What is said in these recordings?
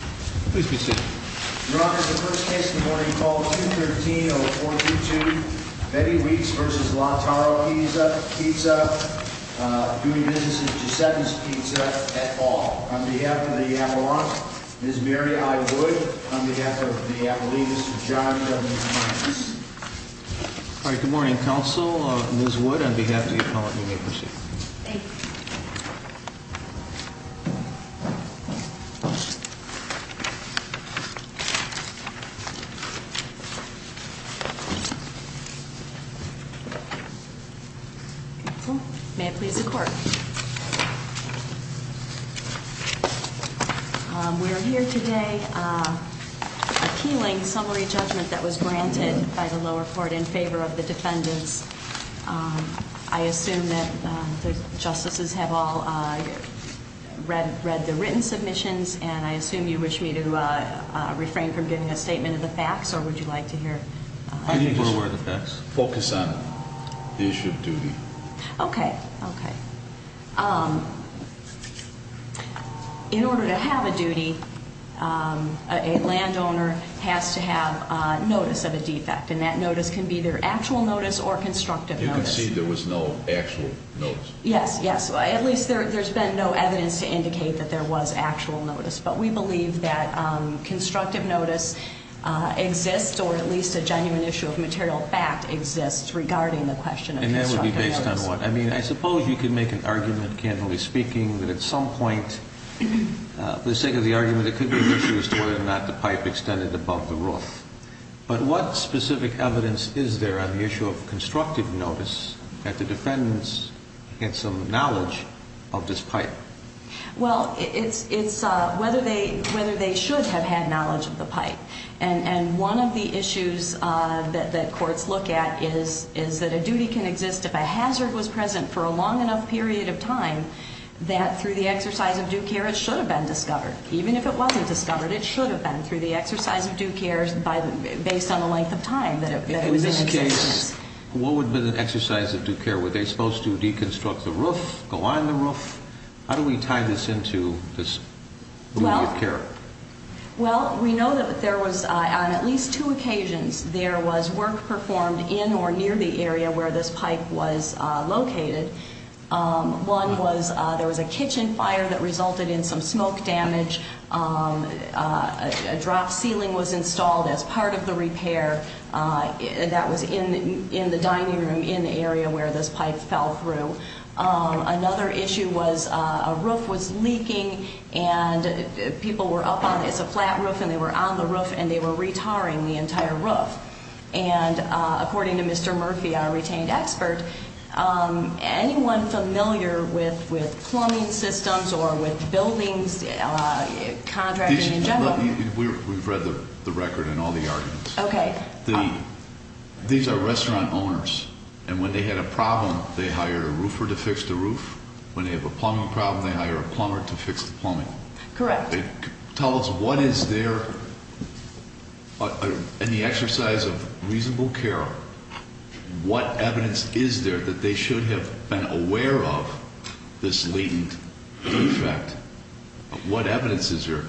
Your Honor, the first case this morning is called 213-0422, Betty Weeks v. La-Tara Pizza, Duty Businesses, Giuseppe's Pizza, et al. On behalf of the Avalanche, Ms. Mary I. Wood. On behalf of the Appalachians, Mr. John W. Thomas. Good morning, Counsel. Ms. Wood, on behalf of the Appalachians, you may proceed. Thank you. May it please the Court. We are here today appealing summary judgment that was granted by the lower court in favor of the defendants. I assume that the justices have all read the written submissions, and I assume you wish me to refrain from giving a statement of the facts, or would you like to hear? I need to be aware of the facts. Focus on the issue of duty. Okay, okay. In order to have a duty, a landowner has to have notice of a defect, and that notice can be either actual notice or constructive notice. You can see there was no actual notice. Yes, yes. At least there's been no evidence to indicate that there was actual notice. But we believe that constructive notice exists, or at least a genuine issue of material fact exists regarding the question of constructive notice. And that would be based on what? I mean, I suppose you could make an argument, candidly speaking, that at some point, for the sake of the argument, it could be an issue as to whether or not the pipe extended above the roof. But what specific evidence is there on the issue of constructive notice that the defendants had some knowledge of this pipe? Well, it's whether they should have had knowledge of the pipe. And one of the issues that courts look at is that a duty can exist if a hazard was present for a long enough period of time that through the exercise of due care it should have been discovered. Even if it wasn't discovered, it should have been through the exercise of due care based on the length of time that it was in existence. What would have been an exercise of due care? Were they supposed to deconstruct the roof, go on the roof? How do we tie this into this duty of care? Well, we know that there was, on at least two occasions, there was work performed in or near the area where this pipe was located. One was there was a kitchen fire that resulted in some smoke damage. A drop ceiling was installed as part of the repair that was in the dining room in the area where this pipe fell through. Another issue was a roof was leaking, and people were up on it. It's a flat roof, and they were on the roof, and they were re-tarring the entire roof. And according to Mr. Murphy, our retained expert, anyone familiar with plumbing systems or with buildings, contracting in general? We've read the record and all the arguments. Okay. These are restaurant owners, and when they had a problem, they hired a roofer to fix the roof. When they have a plumbing problem, they hire a plumber to fix the plumbing. Correct. Tell us what is there, in the exercise of reasonable care, what evidence is there that they should have been aware of this latent defect? What evidence is there?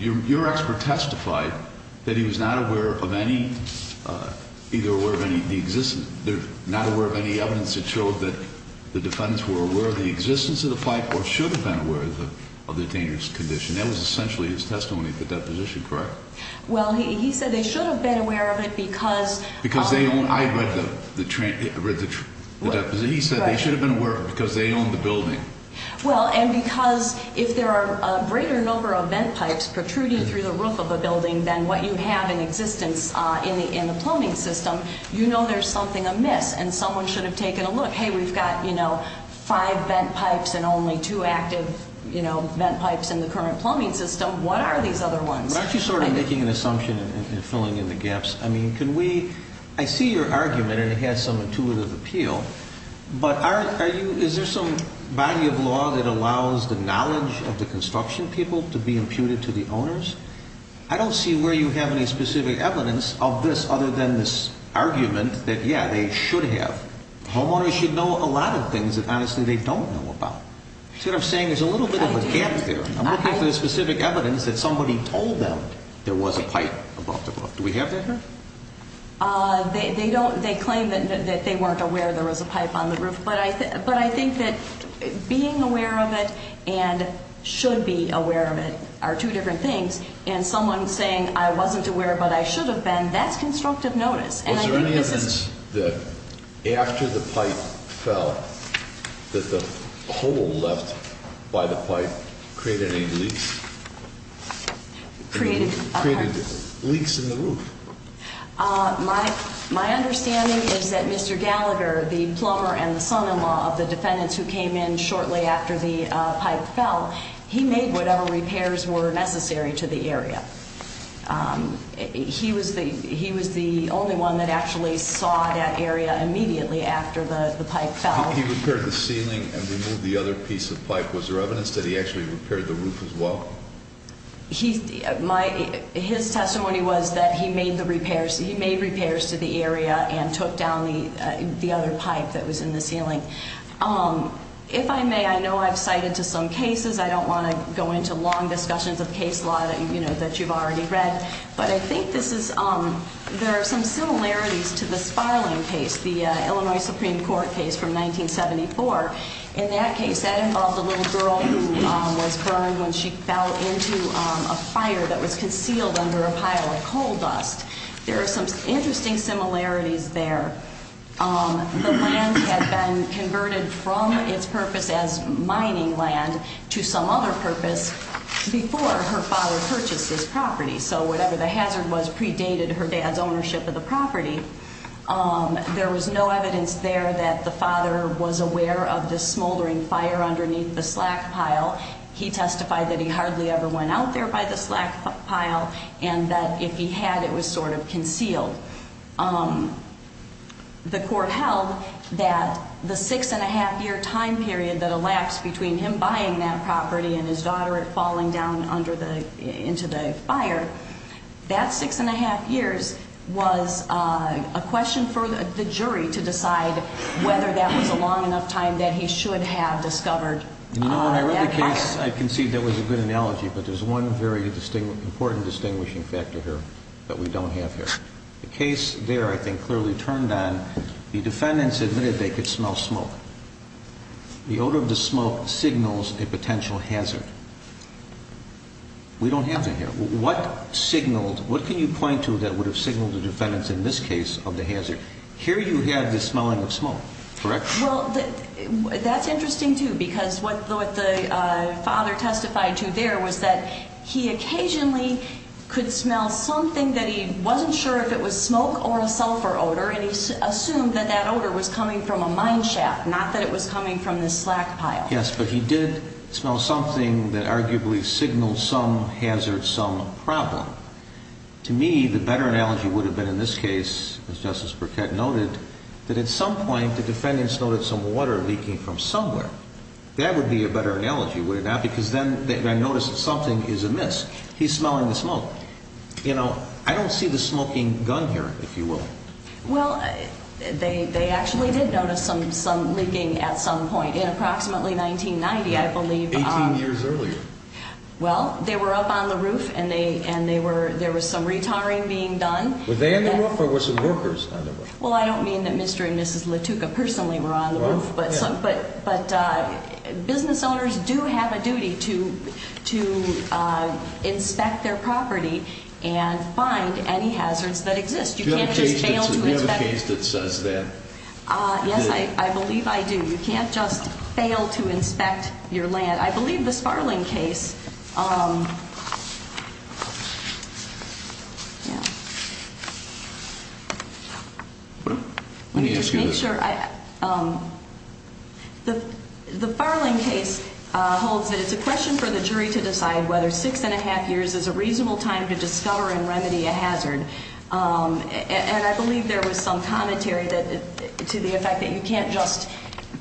Your expert testified that he was not aware of any, either aware of any, not aware of any evidence that showed that the defendants were aware of the existence of the pipe or should have been aware of the dangerous condition. That was essentially his testimony at the deposition, correct? Well, he said they should have been aware of it because Because they own, I read the deposit. He said they should have been aware of it because they own the building. Well, and because if there are a greater number of vent pipes protruding through the roof of a building than what you have in existence in the plumbing system, you know there's something amiss, and someone should have taken a look. Hey, we've got five vent pipes and only two active vent pipes in the current plumbing system. What are these other ones? Aren't you sort of making an assumption and filling in the gaps? I mean, can we, I see your argument, and it has some intuitive appeal, but is there some body of law that allows the knowledge of the construction people to be imputed to the owners? I don't see where you have any specific evidence of this other than this argument that, yeah, they should have. Homeowners should know a lot of things that, honestly, they don't know about. You're sort of saying there's a little bit of a gap there. I'm looking for the specific evidence that somebody told them there was a pipe above the roof. Do we have that here? They claim that they weren't aware there was a pipe on the roof, but I think that being aware of it and should be aware of it are two different things, and someone saying I wasn't aware but I should have been, that's constructive notice. Was there any evidence that after the pipe fell that the hole left by the pipe created any leaks? Created what? Created leaks in the roof. My understanding is that Mr. Gallagher, the plumber and the son-in-law of the defendants who came in shortly after the pipe fell, he made whatever repairs were necessary to the area. He was the only one that actually saw that area immediately after the pipe fell. He repaired the ceiling and removed the other piece of pipe. Was there evidence that he actually repaired the roof as well? His testimony was that he made repairs to the area and took down the other pipe that was in the ceiling. If I may, I know I've cited to some cases. I don't want to go into long discussions of case law that you've already read, but I think there are some similarities to the Sparling case, the Illinois Supreme Court case from 1974. In that case, that involved a little girl who was burned when she fell into a fire that was concealed under a pile of coal dust. There are some interesting similarities there. The land had been converted from its purpose as mining land to some other purpose before her father purchased this property. So whatever the hazard was predated her dad's ownership of the property. There was no evidence there that the father was aware of the smoldering fire underneath the slack pile. He testified that he hardly ever went out there by the slack pile and that if he had, it was sort of concealed. The court held that the six and a half year time period that elapsed between him buying that property and his daughter falling down into the fire, that six and a half years was a question for the jury to decide whether that was a long enough time that he should have discovered that fire. You know, when I read the case, I concede that was a good analogy, but there's one very important distinguishing factor here that we don't have here. The case there, I think, clearly turned on. The defendants admitted they could smell smoke. The odor of the smoke signals a potential hazard. We don't have that here. What signaled, what can you point to that would have signaled the defendants in this case of the hazard? Here you have the smelling of smoke, correct? Well, that's interesting too, because what the father testified to there was that he occasionally could smell something that he wasn't sure if it was smoke or a sulfur odor, and he assumed that that odor was coming from a mine shaft, not that it was coming from this slack pile. Yes, but he did smell something that arguably signaled some hazard, some problem. To me, the better analogy would have been in this case, as Justice Burkett noted, that at some point the defendants noted some water leaking from somewhere. That would be a better analogy, would it not? Because then they notice that something is amiss. He's smelling the smoke. You know, I don't see the smoking gun here, if you will. Well, they actually did notice some leaking at some point. In approximately 1990, I believe. Eighteen years earlier. Well, they were up on the roof, and there was some retarring being done. Were they on the roof, or were some workers on the roof? Well, I don't mean that Mr. and Mrs. Latuka personally were on the roof, but business owners do have a duty to inspect their property and find any hazards that exist. You can't just fail to inspect. Do you have a case that says that? Yes, I believe I do. You can't just fail to inspect your land. I believe this Farling case. The Farling case holds that it's a question for the jury to decide whether six and a half years is a reasonable time to discover and remedy a hazard. And I believe there was some commentary to the effect that you can't just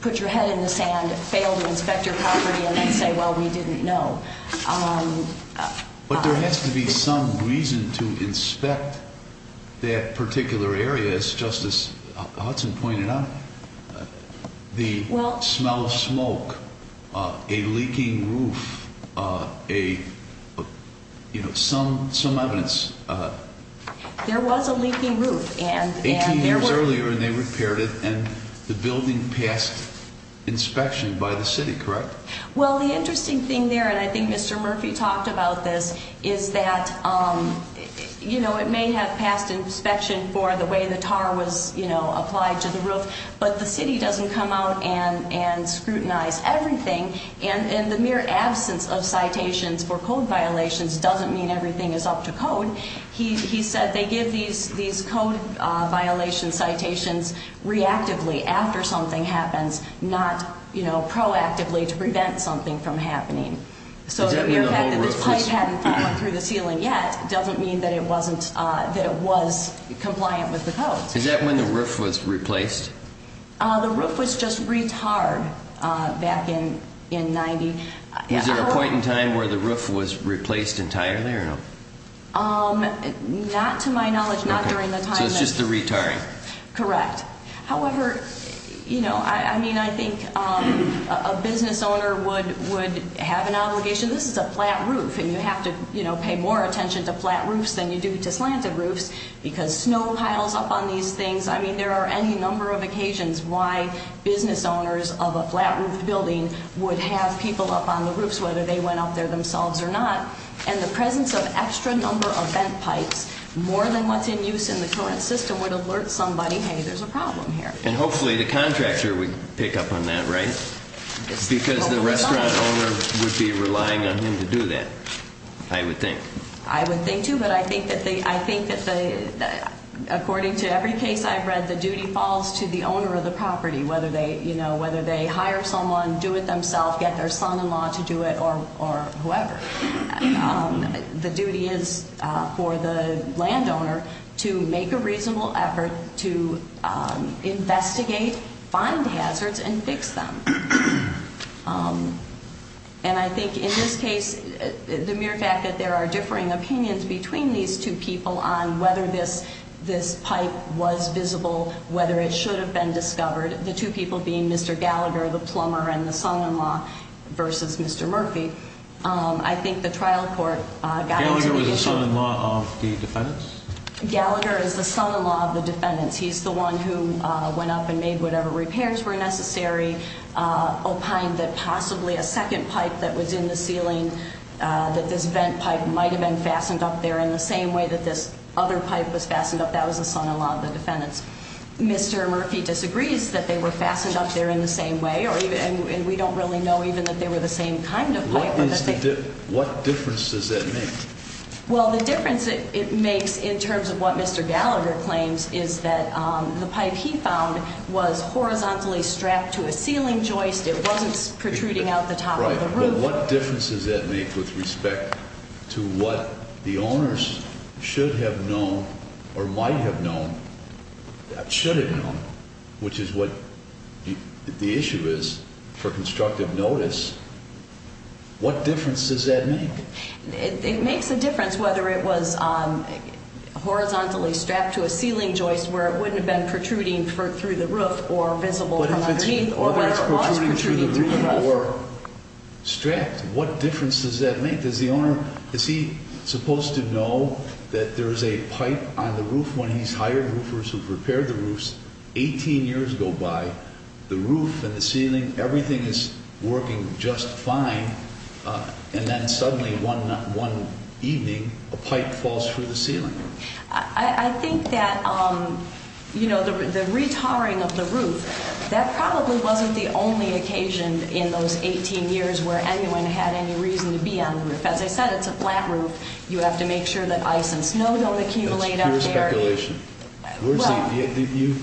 put your head in the sand, fail to inspect your property, and then say, well, we didn't know. But there has to be some reason to inspect that particular area, as Justice Hudson pointed out. The smell of smoke, a leaking roof, some evidence. There was a leaking roof. Eighteen years earlier, and they repaired it, and the building passed inspection by the city, correct? Well, the interesting thing there, and I think Mr. Murphy talked about this, is that it may have passed inspection for the way the tar was applied to the roof, but the city doesn't come out and scrutinize everything. And the mere absence of citations for code violations doesn't mean everything is up to code. He said they give these code violation citations reactively after something happens, not proactively to prevent something from happening. So the fact that this pipe hasn't gone through the ceiling yet doesn't mean that it was compliant with the code. Is that when the roof was replaced? The roof was just re-tarred back in 1990. Was there a point in time where the roof was replaced entirely or no? Not to my knowledge, not during the time. So it's just the re-tarring. Correct. However, you know, I mean, I think a business owner would have an obligation. This is a flat roof, and you have to, you know, pay more attention to flat roofs than you do to slanted roofs, because snow piles up on these things. I mean, there are any number of occasions why business owners of a flat roof building would have people up on the roofs, whether they went up there themselves or not. And the presence of extra number of vent pipes, more than what's in use in the current system, would alert somebody, hey, there's a problem here. And hopefully the contractor would pick up on that, right? Because the restaurant owner would be relying on him to do that, I would think. I would think too, but I think that according to every case I've read, the duty falls to the owner of the property, whether they hire someone, do it themselves, get their son-in-law to do it, or whoever. The duty is for the landowner to make a reasonable effort to investigate, find hazards, and fix them. And I think in this case, the mere fact that there are differing opinions between these two people on whether this pipe was visible, whether it should have been discovered, the two people being Mr. Gallagher, the plumber, and the son-in-law, versus Mr. Murphy, I think the trial court got to the issue. Gallagher was the son-in-law of the defendants? Gallagher is the son-in-law of the defendants. He's the one who went up and made whatever repairs were necessary, opined that possibly a second pipe that was in the ceiling, that this vent pipe might have been fastened up there in the same way that this other pipe was fastened up, that was the son-in-law of the defendants. Mr. Murphy disagrees that they were fastened up there in the same way, and we don't really know even that they were the same kind of pipe. What difference does that make? Well, the difference it makes in terms of what Mr. Gallagher claims is that the pipe he found was horizontally strapped to a ceiling joist. It wasn't protruding out the top of the roof. But what difference does that make with respect to what the owners should have known or might have known, should have known, which is what the issue is for constructive notice, what difference does that make? It makes a difference whether it was horizontally strapped to a ceiling joist where it wouldn't have been protruding through the roof or visible from underneath or where it was protruding through the roof. But if it's protruding through the roof or strapped, what difference does that make? Is the owner, is he supposed to know that there's a pipe on the roof when he's hired roofers who've repaired the roofs 18 years go by, the roof and the ceiling, everything is working just fine, and then suddenly one evening a pipe falls through the ceiling? I think that the re-tarring of the roof, that probably wasn't the only occasion in those 18 years where anyone had any reason to be on the roof. As I said, it's a flat roof. You have to make sure that ice and snow don't accumulate up there. That's pure speculation.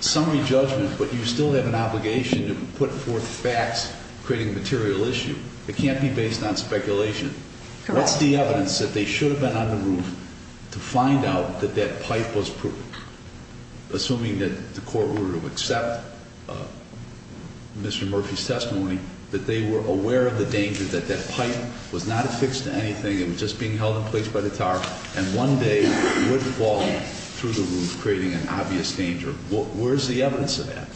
Summary judgment, but you still have an obligation to put forth facts, creating a material issue. It can't be based on speculation. Correct. What's the evidence that they should have been on the roof to find out that that pipe was, assuming that the court were to accept Mr. Murphy's testimony, that they were aware of the danger that that pipe was not affixed to anything, it was just being held in place by the tar, and one day would fall through the roof, creating an obvious danger? Where's the evidence of that?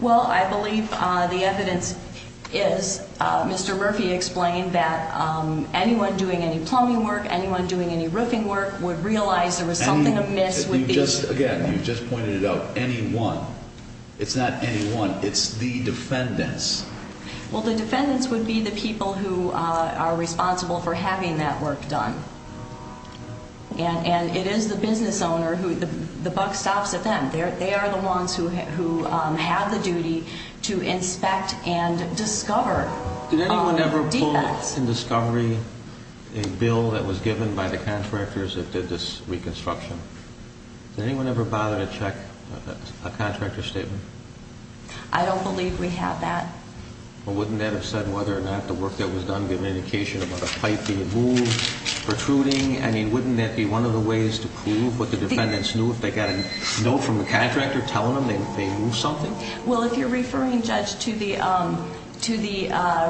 Well, I believe the evidence is Mr. Murphy explained that anyone doing any plumbing work, anyone doing any roofing work would realize there was something amiss with these. Again, you just pointed it out, anyone. It's not anyone. It's the defendants. Well, the defendants would be the people who are responsible for having that work done, and it is the business owner who the buck stops at them. They are the ones who have the duty to inspect and discover defects. Did anyone ever pull in discovery a bill that was given by the contractors that did this reconstruction? Did anyone ever bother to check a contractor's statement? I don't believe we have that. Well, wouldn't that have said whether or not the work that was done gave an indication about the pipe being moved, protruding, I mean, wouldn't that be one of the ways to prove what the defendants knew if they got a note from the contractor telling them they moved something? Well, if you're referring, Judge, to the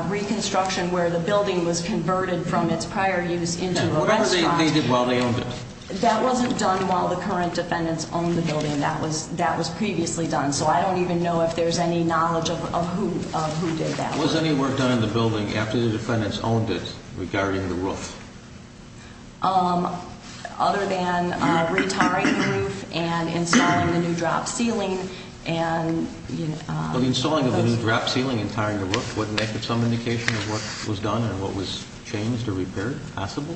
reconstruction where the building was converted from its prior use into a restaurant. Whatever they did while they owned it. That wasn't done while the current defendants owned the building. That was previously done, so I don't even know if there's any knowledge of who did that work. Was any work done in the building after the defendants owned it regarding the roof? Other than re-tiring the roof and installing the new drop ceiling. Well, the installing of the new drop ceiling and tiring the roof, wouldn't that give some indication of what was done and what was changed or repaired, possible?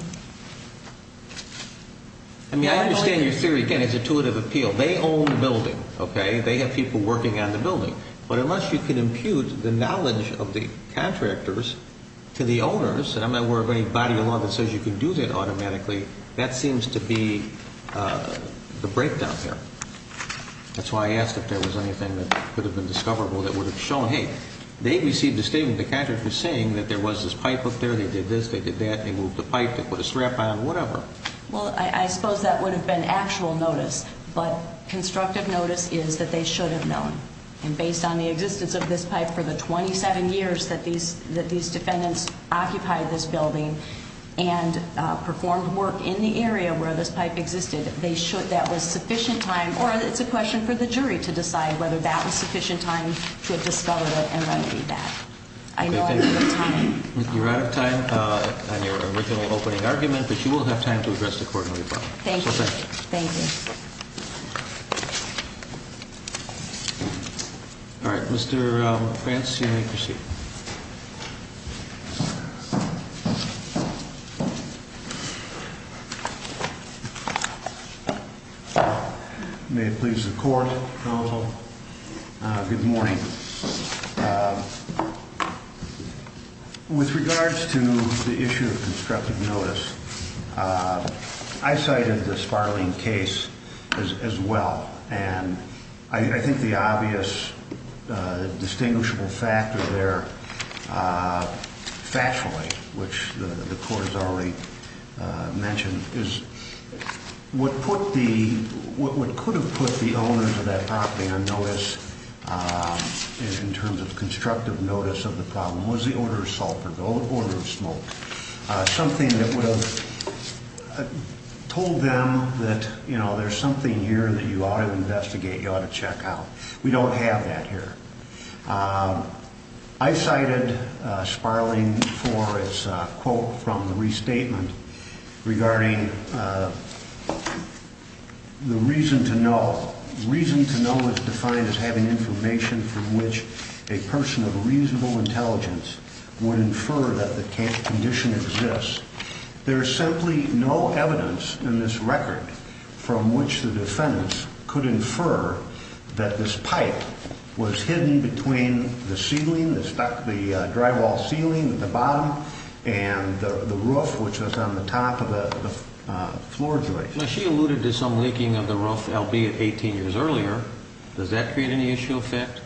I mean, I understand your theory, again, is intuitive appeal. They own the building, okay? They have people working on the building. But unless you can impute the knowledge of the contractors to the owners, and I'm not aware of any body of law that says you can do that automatically, that seems to be the breakdown there. That's why I asked if there was anything that could have been discoverable that would have shown, hey, they received a statement from the contractor saying that there was this pipe up there, they did this, they did that, they moved the pipe, they put a strap on, whatever. Well, I suppose that would have been actual notice. But constructive notice is that they should have known. And based on the existence of this pipe for the 27 years that these defendants occupied this building and performed work in the area where this pipe existed, that was sufficient time, or it's a question for the jury to decide, whether that was sufficient time to have discovered it and remedied that. I know I'm out of time. You're out of time on your original opening argument, but you will have time to address the Court in rebuttal. Thank you. Thank you. All right, Mr. Vance, you may proceed. May it please the Court, counsel. Good morning. With regards to the issue of constructive notice, I cited the Sparling case as well. And I think the obvious distinguishable factor there, factually, which the Court has already mentioned, is what could have put the owners of that property on notice in terms of constructive notice of the problem was the order of sulfur, the order of smoke, something that would have told them that, you know, there's something here that you ought to investigate, you ought to check out. We don't have that here. I cited Sparling for his quote from the restatement regarding the reason to know. Reason to know is defined as having information from which a person of reasonable intelligence would infer that the condition exists. There is simply no evidence in this record from which the defendants could infer that this pipe was hidden between the ceiling, the drywall ceiling at the bottom, and the roof, which was on the top of the floor joist. She alluded to some leaking of the roof, albeit 18 years earlier. Does that create any issue or effect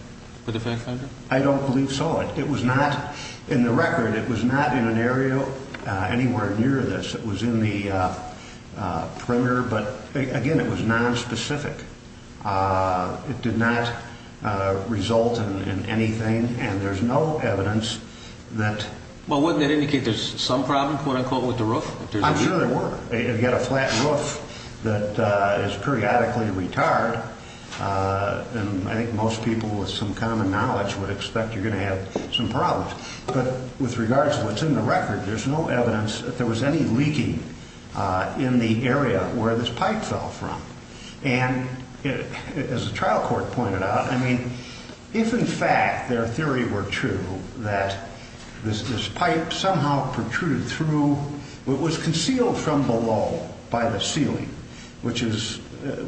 for the fact finder? I don't believe so. It was not in the record. It was not in an area anywhere near this. It was in the perimeter, but, again, it was nonspecific. It did not result in anything, and there's no evidence that – Well, wouldn't that indicate there's some problem, quote-unquote, with the roof? I'm sure there were. You've got a flat roof that is periodically retired, and I think most people with some common knowledge would expect you're going to have some problems. But with regards to what's in the record, there's no evidence that there was any leaking in the area where this pipe fell from. And as the trial court pointed out, I mean, if in fact their theory were true that this pipe somehow protruded through what was concealed from below by the ceiling, which is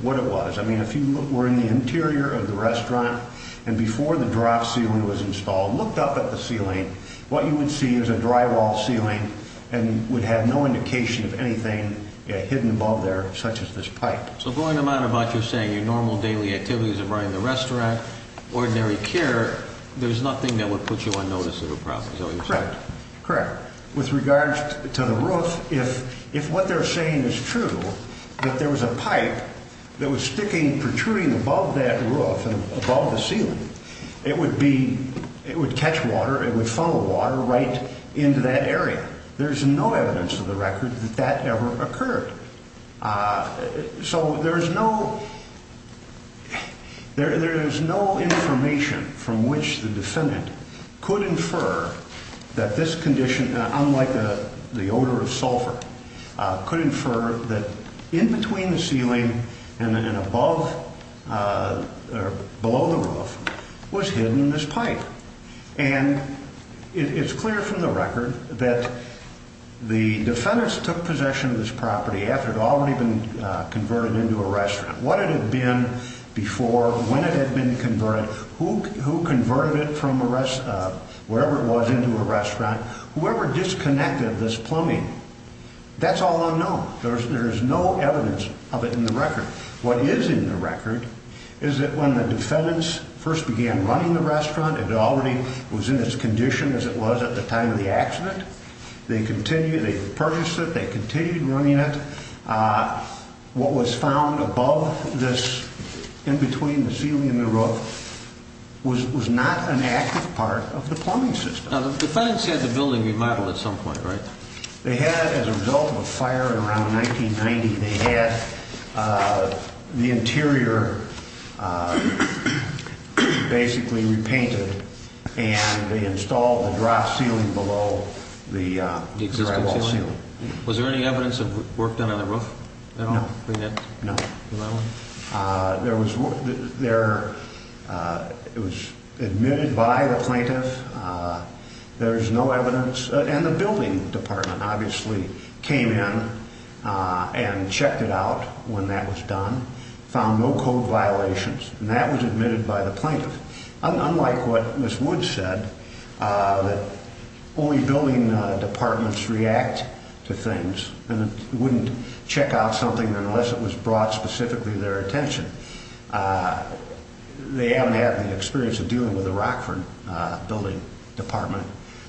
what it was. I mean, if you were in the interior of the restaurant and before the draft ceiling was installed looked up at the ceiling, what you would see is a drywall ceiling and would have no indication of anything hidden above there such as this pipe. So going on about you saying your normal daily activities of running the restaurant, ordinary care, there's nothing that would put you on notice of a problem, is that what you're saying? Correct, correct. With regards to the roof, if what they're saying is true, that there was a pipe that was sticking, protruding above that roof and above the ceiling, it would catch water, it would funnel water right into that area. There's no evidence in the record that that ever occurred. So there is no information from which the defendant could infer that this condition, unlike the odor of sulfur, could infer that in between the ceiling and above or below the roof was hidden this pipe. And it's clear from the record that the defendants took possession of this property after it had already been converted into a restaurant. What it had been before, when it had been converted, who converted it from wherever it was into a restaurant, whoever disconnected this plumbing, that's all unknown. There is no evidence of it in the record. What is in the record is that when the defendants first began running the restaurant, it already was in its condition as it was at the time of the accident. They purchased it, they continued running it. What was found above this, in between the ceiling and the roof, was not an active part of the plumbing system. Now, the defendants had the building remodeled at some point, right? They had it as a result of a fire around 1990. They had the interior basically repainted, and they installed the drop ceiling below the drywall ceiling. Was there any evidence of work done on the roof? No. It was admitted by the plaintiff. There is no evidence, and the building department obviously came in and checked it out when that was done, found no code violations, and that was admitted by the plaintiff. Unlike what Ms. Woods said, that only building departments react to things and wouldn't check out something unless it was brought specifically to their attention, they haven't had the experience of dealing with the Rockford building department,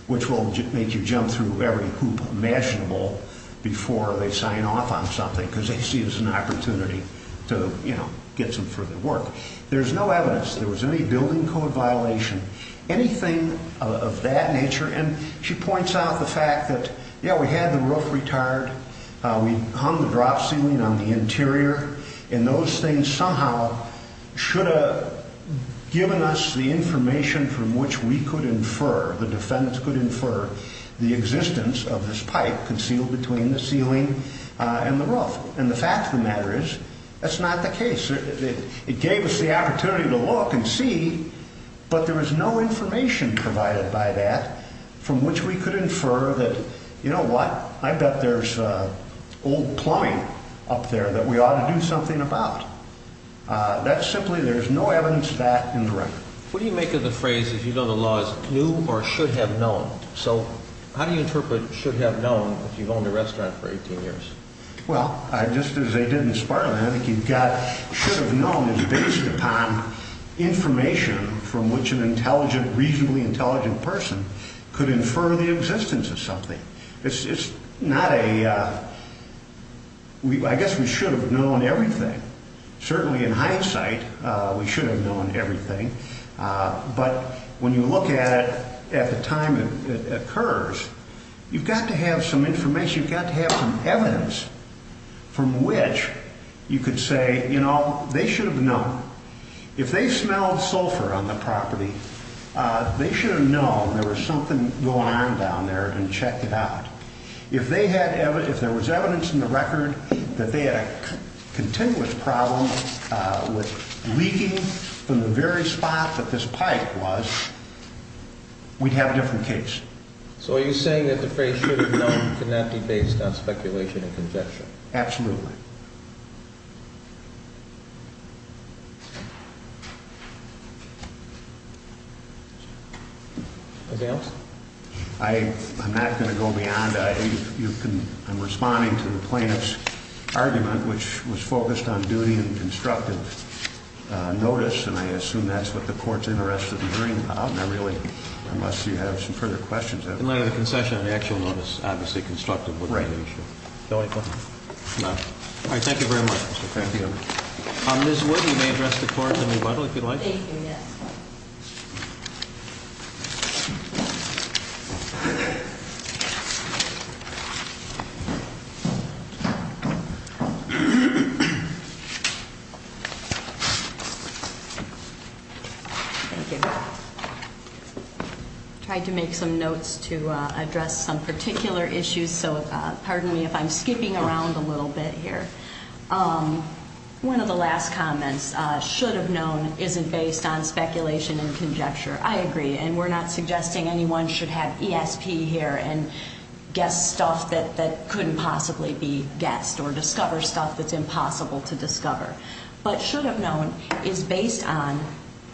which will make you jump through every hoop imaginable before they sign off on something because they see it as an opportunity to, you know, get some further work. There's no evidence there was any building code violation, anything of that nature, and she points out the fact that, yeah, we had the roof retired, we hung the drop ceiling on the interior, and those things somehow should have given us the information from which we could infer, the defendants could infer, the existence of this pipe concealed between the ceiling and the roof. And the fact of the matter is that's not the case. It gave us the opportunity to look and see, but there was no information provided by that from which we could infer that, you know what, I bet there's old plumbing up there that we ought to do something about. That's simply there's no evidence of that in the record. What do you make of the phrase, if you know the law, is new or should have known? So how do you interpret should have known if you've owned a restaurant for 18 years? Well, just as they did in Spartan, I think you've got should have known is based upon information from which an intelligent, reasonably intelligent person could infer the existence of something. It's not a, I guess we should have known everything. Certainly in hindsight, we should have known everything. But when you look at it at the time it occurs, you've got to have some information, you've got to have some evidence from which you could say, you know, they should have known. If they smelled sulfur on the property, they should have known there was something going on down there and checked it out. If they had, if there was evidence in the record that they had a continuous problem with leaking from the very spot that this pipe was, we'd have a different case. So are you saying that the phrase should have known could not be based on speculation and conjecture? Absolutely. Anything else? I'm not going to go beyond. I'm responding to the plaintiff's argument, which was focused on duty and constructive notice, and I assume that's what the court's interest is in hearing about. And I really, unless you have some further questions. In light of the concession, an actual notice, obviously constructive would be the issue. Right. All right. Thank you very much. Thank you. Ms. Wood, you may address the court in rebuttal, if you'd like. Thank you, yes. Thank you. Tried to make some notes to address some particular issues, so pardon me if I'm skipping around a little bit here. One of the last comments, should have known isn't based on speculation and conjecture. I agree, and we're not suggesting anyone should have ESP here and guess stuff that couldn't possibly be guessed or discover stuff that's impossible to discover. But should have known is based on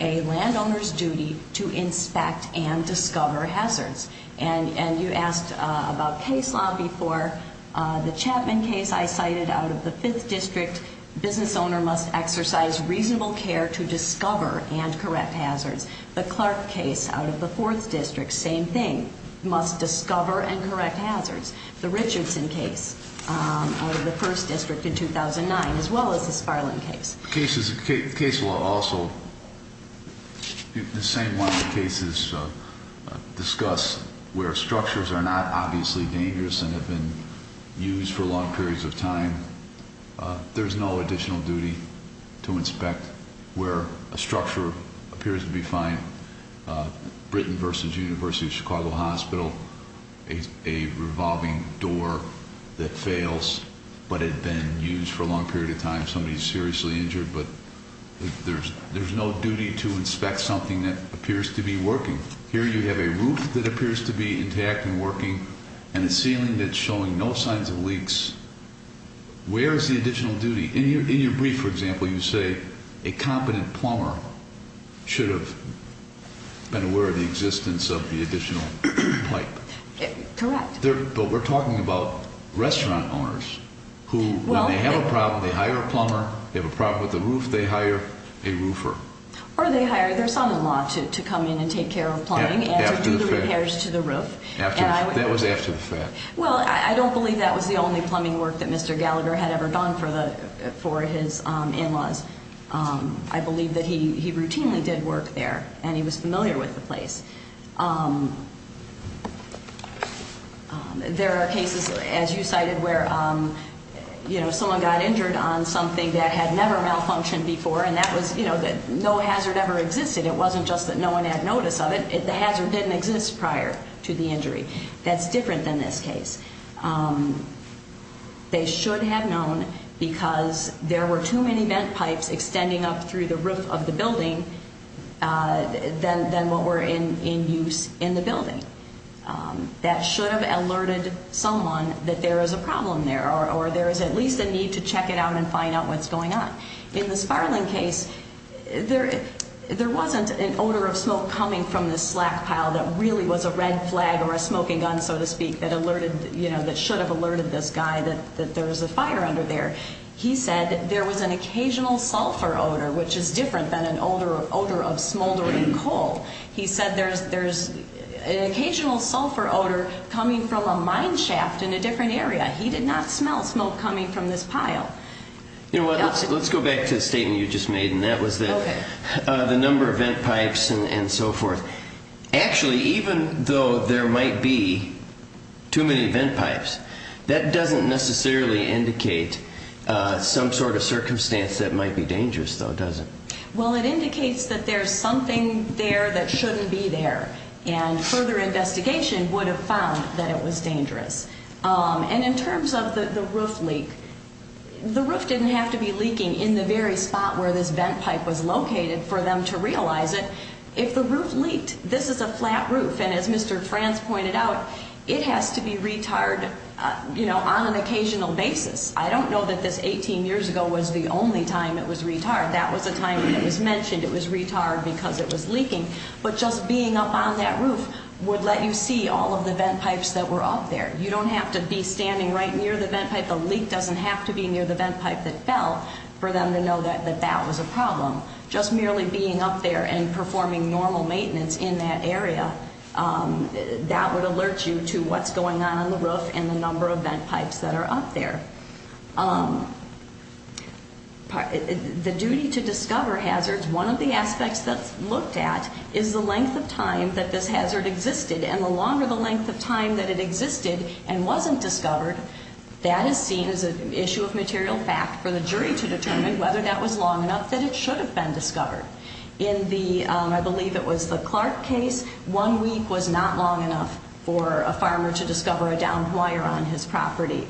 a landowner's duty to inspect and discover hazards. And you asked about case law before. The Chapman case I cited out of the Fifth District, business owner must exercise reasonable care to discover and correct hazards. The Clark case out of the Fourth District, same thing, must discover and correct hazards. The Richardson case out of the First District in 2009, as well as the Sparling case. The case law also, the same one of the cases discussed where structures are not obviously dangerous and have been used for long periods of time, there's no additional duty to inspect where a structure appears to be fine. Britain versus University of Chicago Hospital, a revolving door that fails but had been used for a long period of time. Somebody's seriously injured, but there's no duty to inspect something that appears to be working. Here you have a roof that appears to be intact and working and a ceiling that's showing no signs of leaks. Where is the additional duty? In your brief, for example, you say a competent plumber should have been aware of the existence of the additional pipe. Correct. But we're talking about restaurant owners who, when they have a problem, they hire a plumber. They have a problem with the roof, they hire a roofer. Or they hire their son-in-law to come in and take care of plumbing and to do the repairs to the roof. That was after the fact. Well, I don't believe that was the only plumbing work that Mr. Gallagher had ever done for his in-laws. I believe that he routinely did work there and he was familiar with the place. There are cases, as you cited, where someone got injured on something that had never malfunctioned before, and that was that no hazard ever existed. It wasn't just that no one had notice of it. The hazard didn't exist prior to the injury. That's different than this case. They should have known because there were too many vent pipes extending up through the roof of the building than what were in use in the building. That should have alerted someone that there is a problem there or there is at least a need to check it out and find out what's going on. In the Sparling case, there wasn't an odor of smoke coming from this slack pile that really was a red flag or a smoking gun, so to speak, that should have alerted this guy that there was a fire under there. He said there was an occasional sulfur odor, which is different than an odor of smoldering coal. He said there's an occasional sulfur odor coming from a mine shaft in a different area. Let's go back to the statement you just made, and that was the number of vent pipes and so forth. Actually, even though there might be too many vent pipes, that doesn't necessarily indicate some sort of circumstance that might be dangerous, though, does it? Well, it indicates that there's something there that shouldn't be there, and further investigation would have found that it was dangerous. In terms of the roof leak, the roof didn't have to be leaking in the very spot where this vent pipe was located for them to realize it. If the roof leaked, this is a flat roof, and as Mr. Franz pointed out, it has to be retard on an occasional basis. I don't know that this 18 years ago was the only time it was retard. That was a time when it was mentioned it was retard because it was leaking, but just being up on that roof would let you see all of the vent pipes that were up there. You don't have to be standing right near the vent pipe. The leak doesn't have to be near the vent pipe that fell for them to know that that was a problem. Just merely being up there and performing normal maintenance in that area, that would alert you to what's going on on the roof and the number of vent pipes that are up there. The duty to discover hazards, one of the aspects that's looked at is the length of time that this hazard existed, and the longer the length of time that it existed and wasn't discovered, that is seen as an issue of material fact for the jury to determine whether that was long enough that it should have been discovered. In the, I believe it was the Clark case, one week was not long enough for a farmer to discover a downed wire on his property.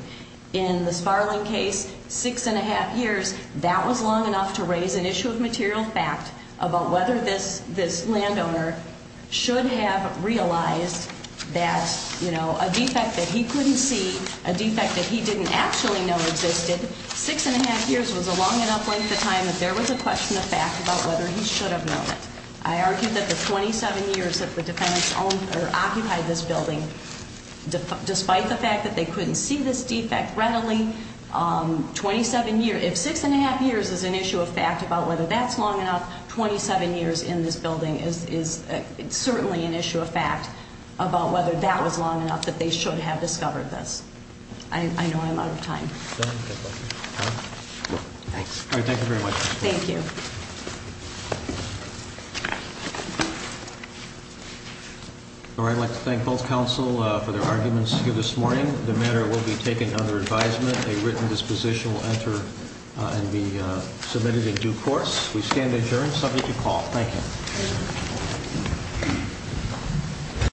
In the Sparling case, six and a half years, that was long enough to raise an issue of material fact about whether this landowner should have realized that a defect that he couldn't see, a defect that he didn't actually know existed, six and a half years was a long enough length of time that there was a question of fact about whether he should have known it. I argue that the 27 years that the defendants owned or occupied this building, despite the fact that they couldn't see this defect readily, 27 years, if six and a half years is an issue of fact about whether that's long enough, 27 years in this building is certainly an issue of fact about whether that was long enough that they should have discovered this. I know I'm out of time. Thanks. All right, thank you very much. Thank you. All right, I'd like to thank both counsel for their arguments here this morning. The matter will be taken under advisement. A written disposition will enter and be submitted in due course. We stand adjourned, subject to call. Thank you.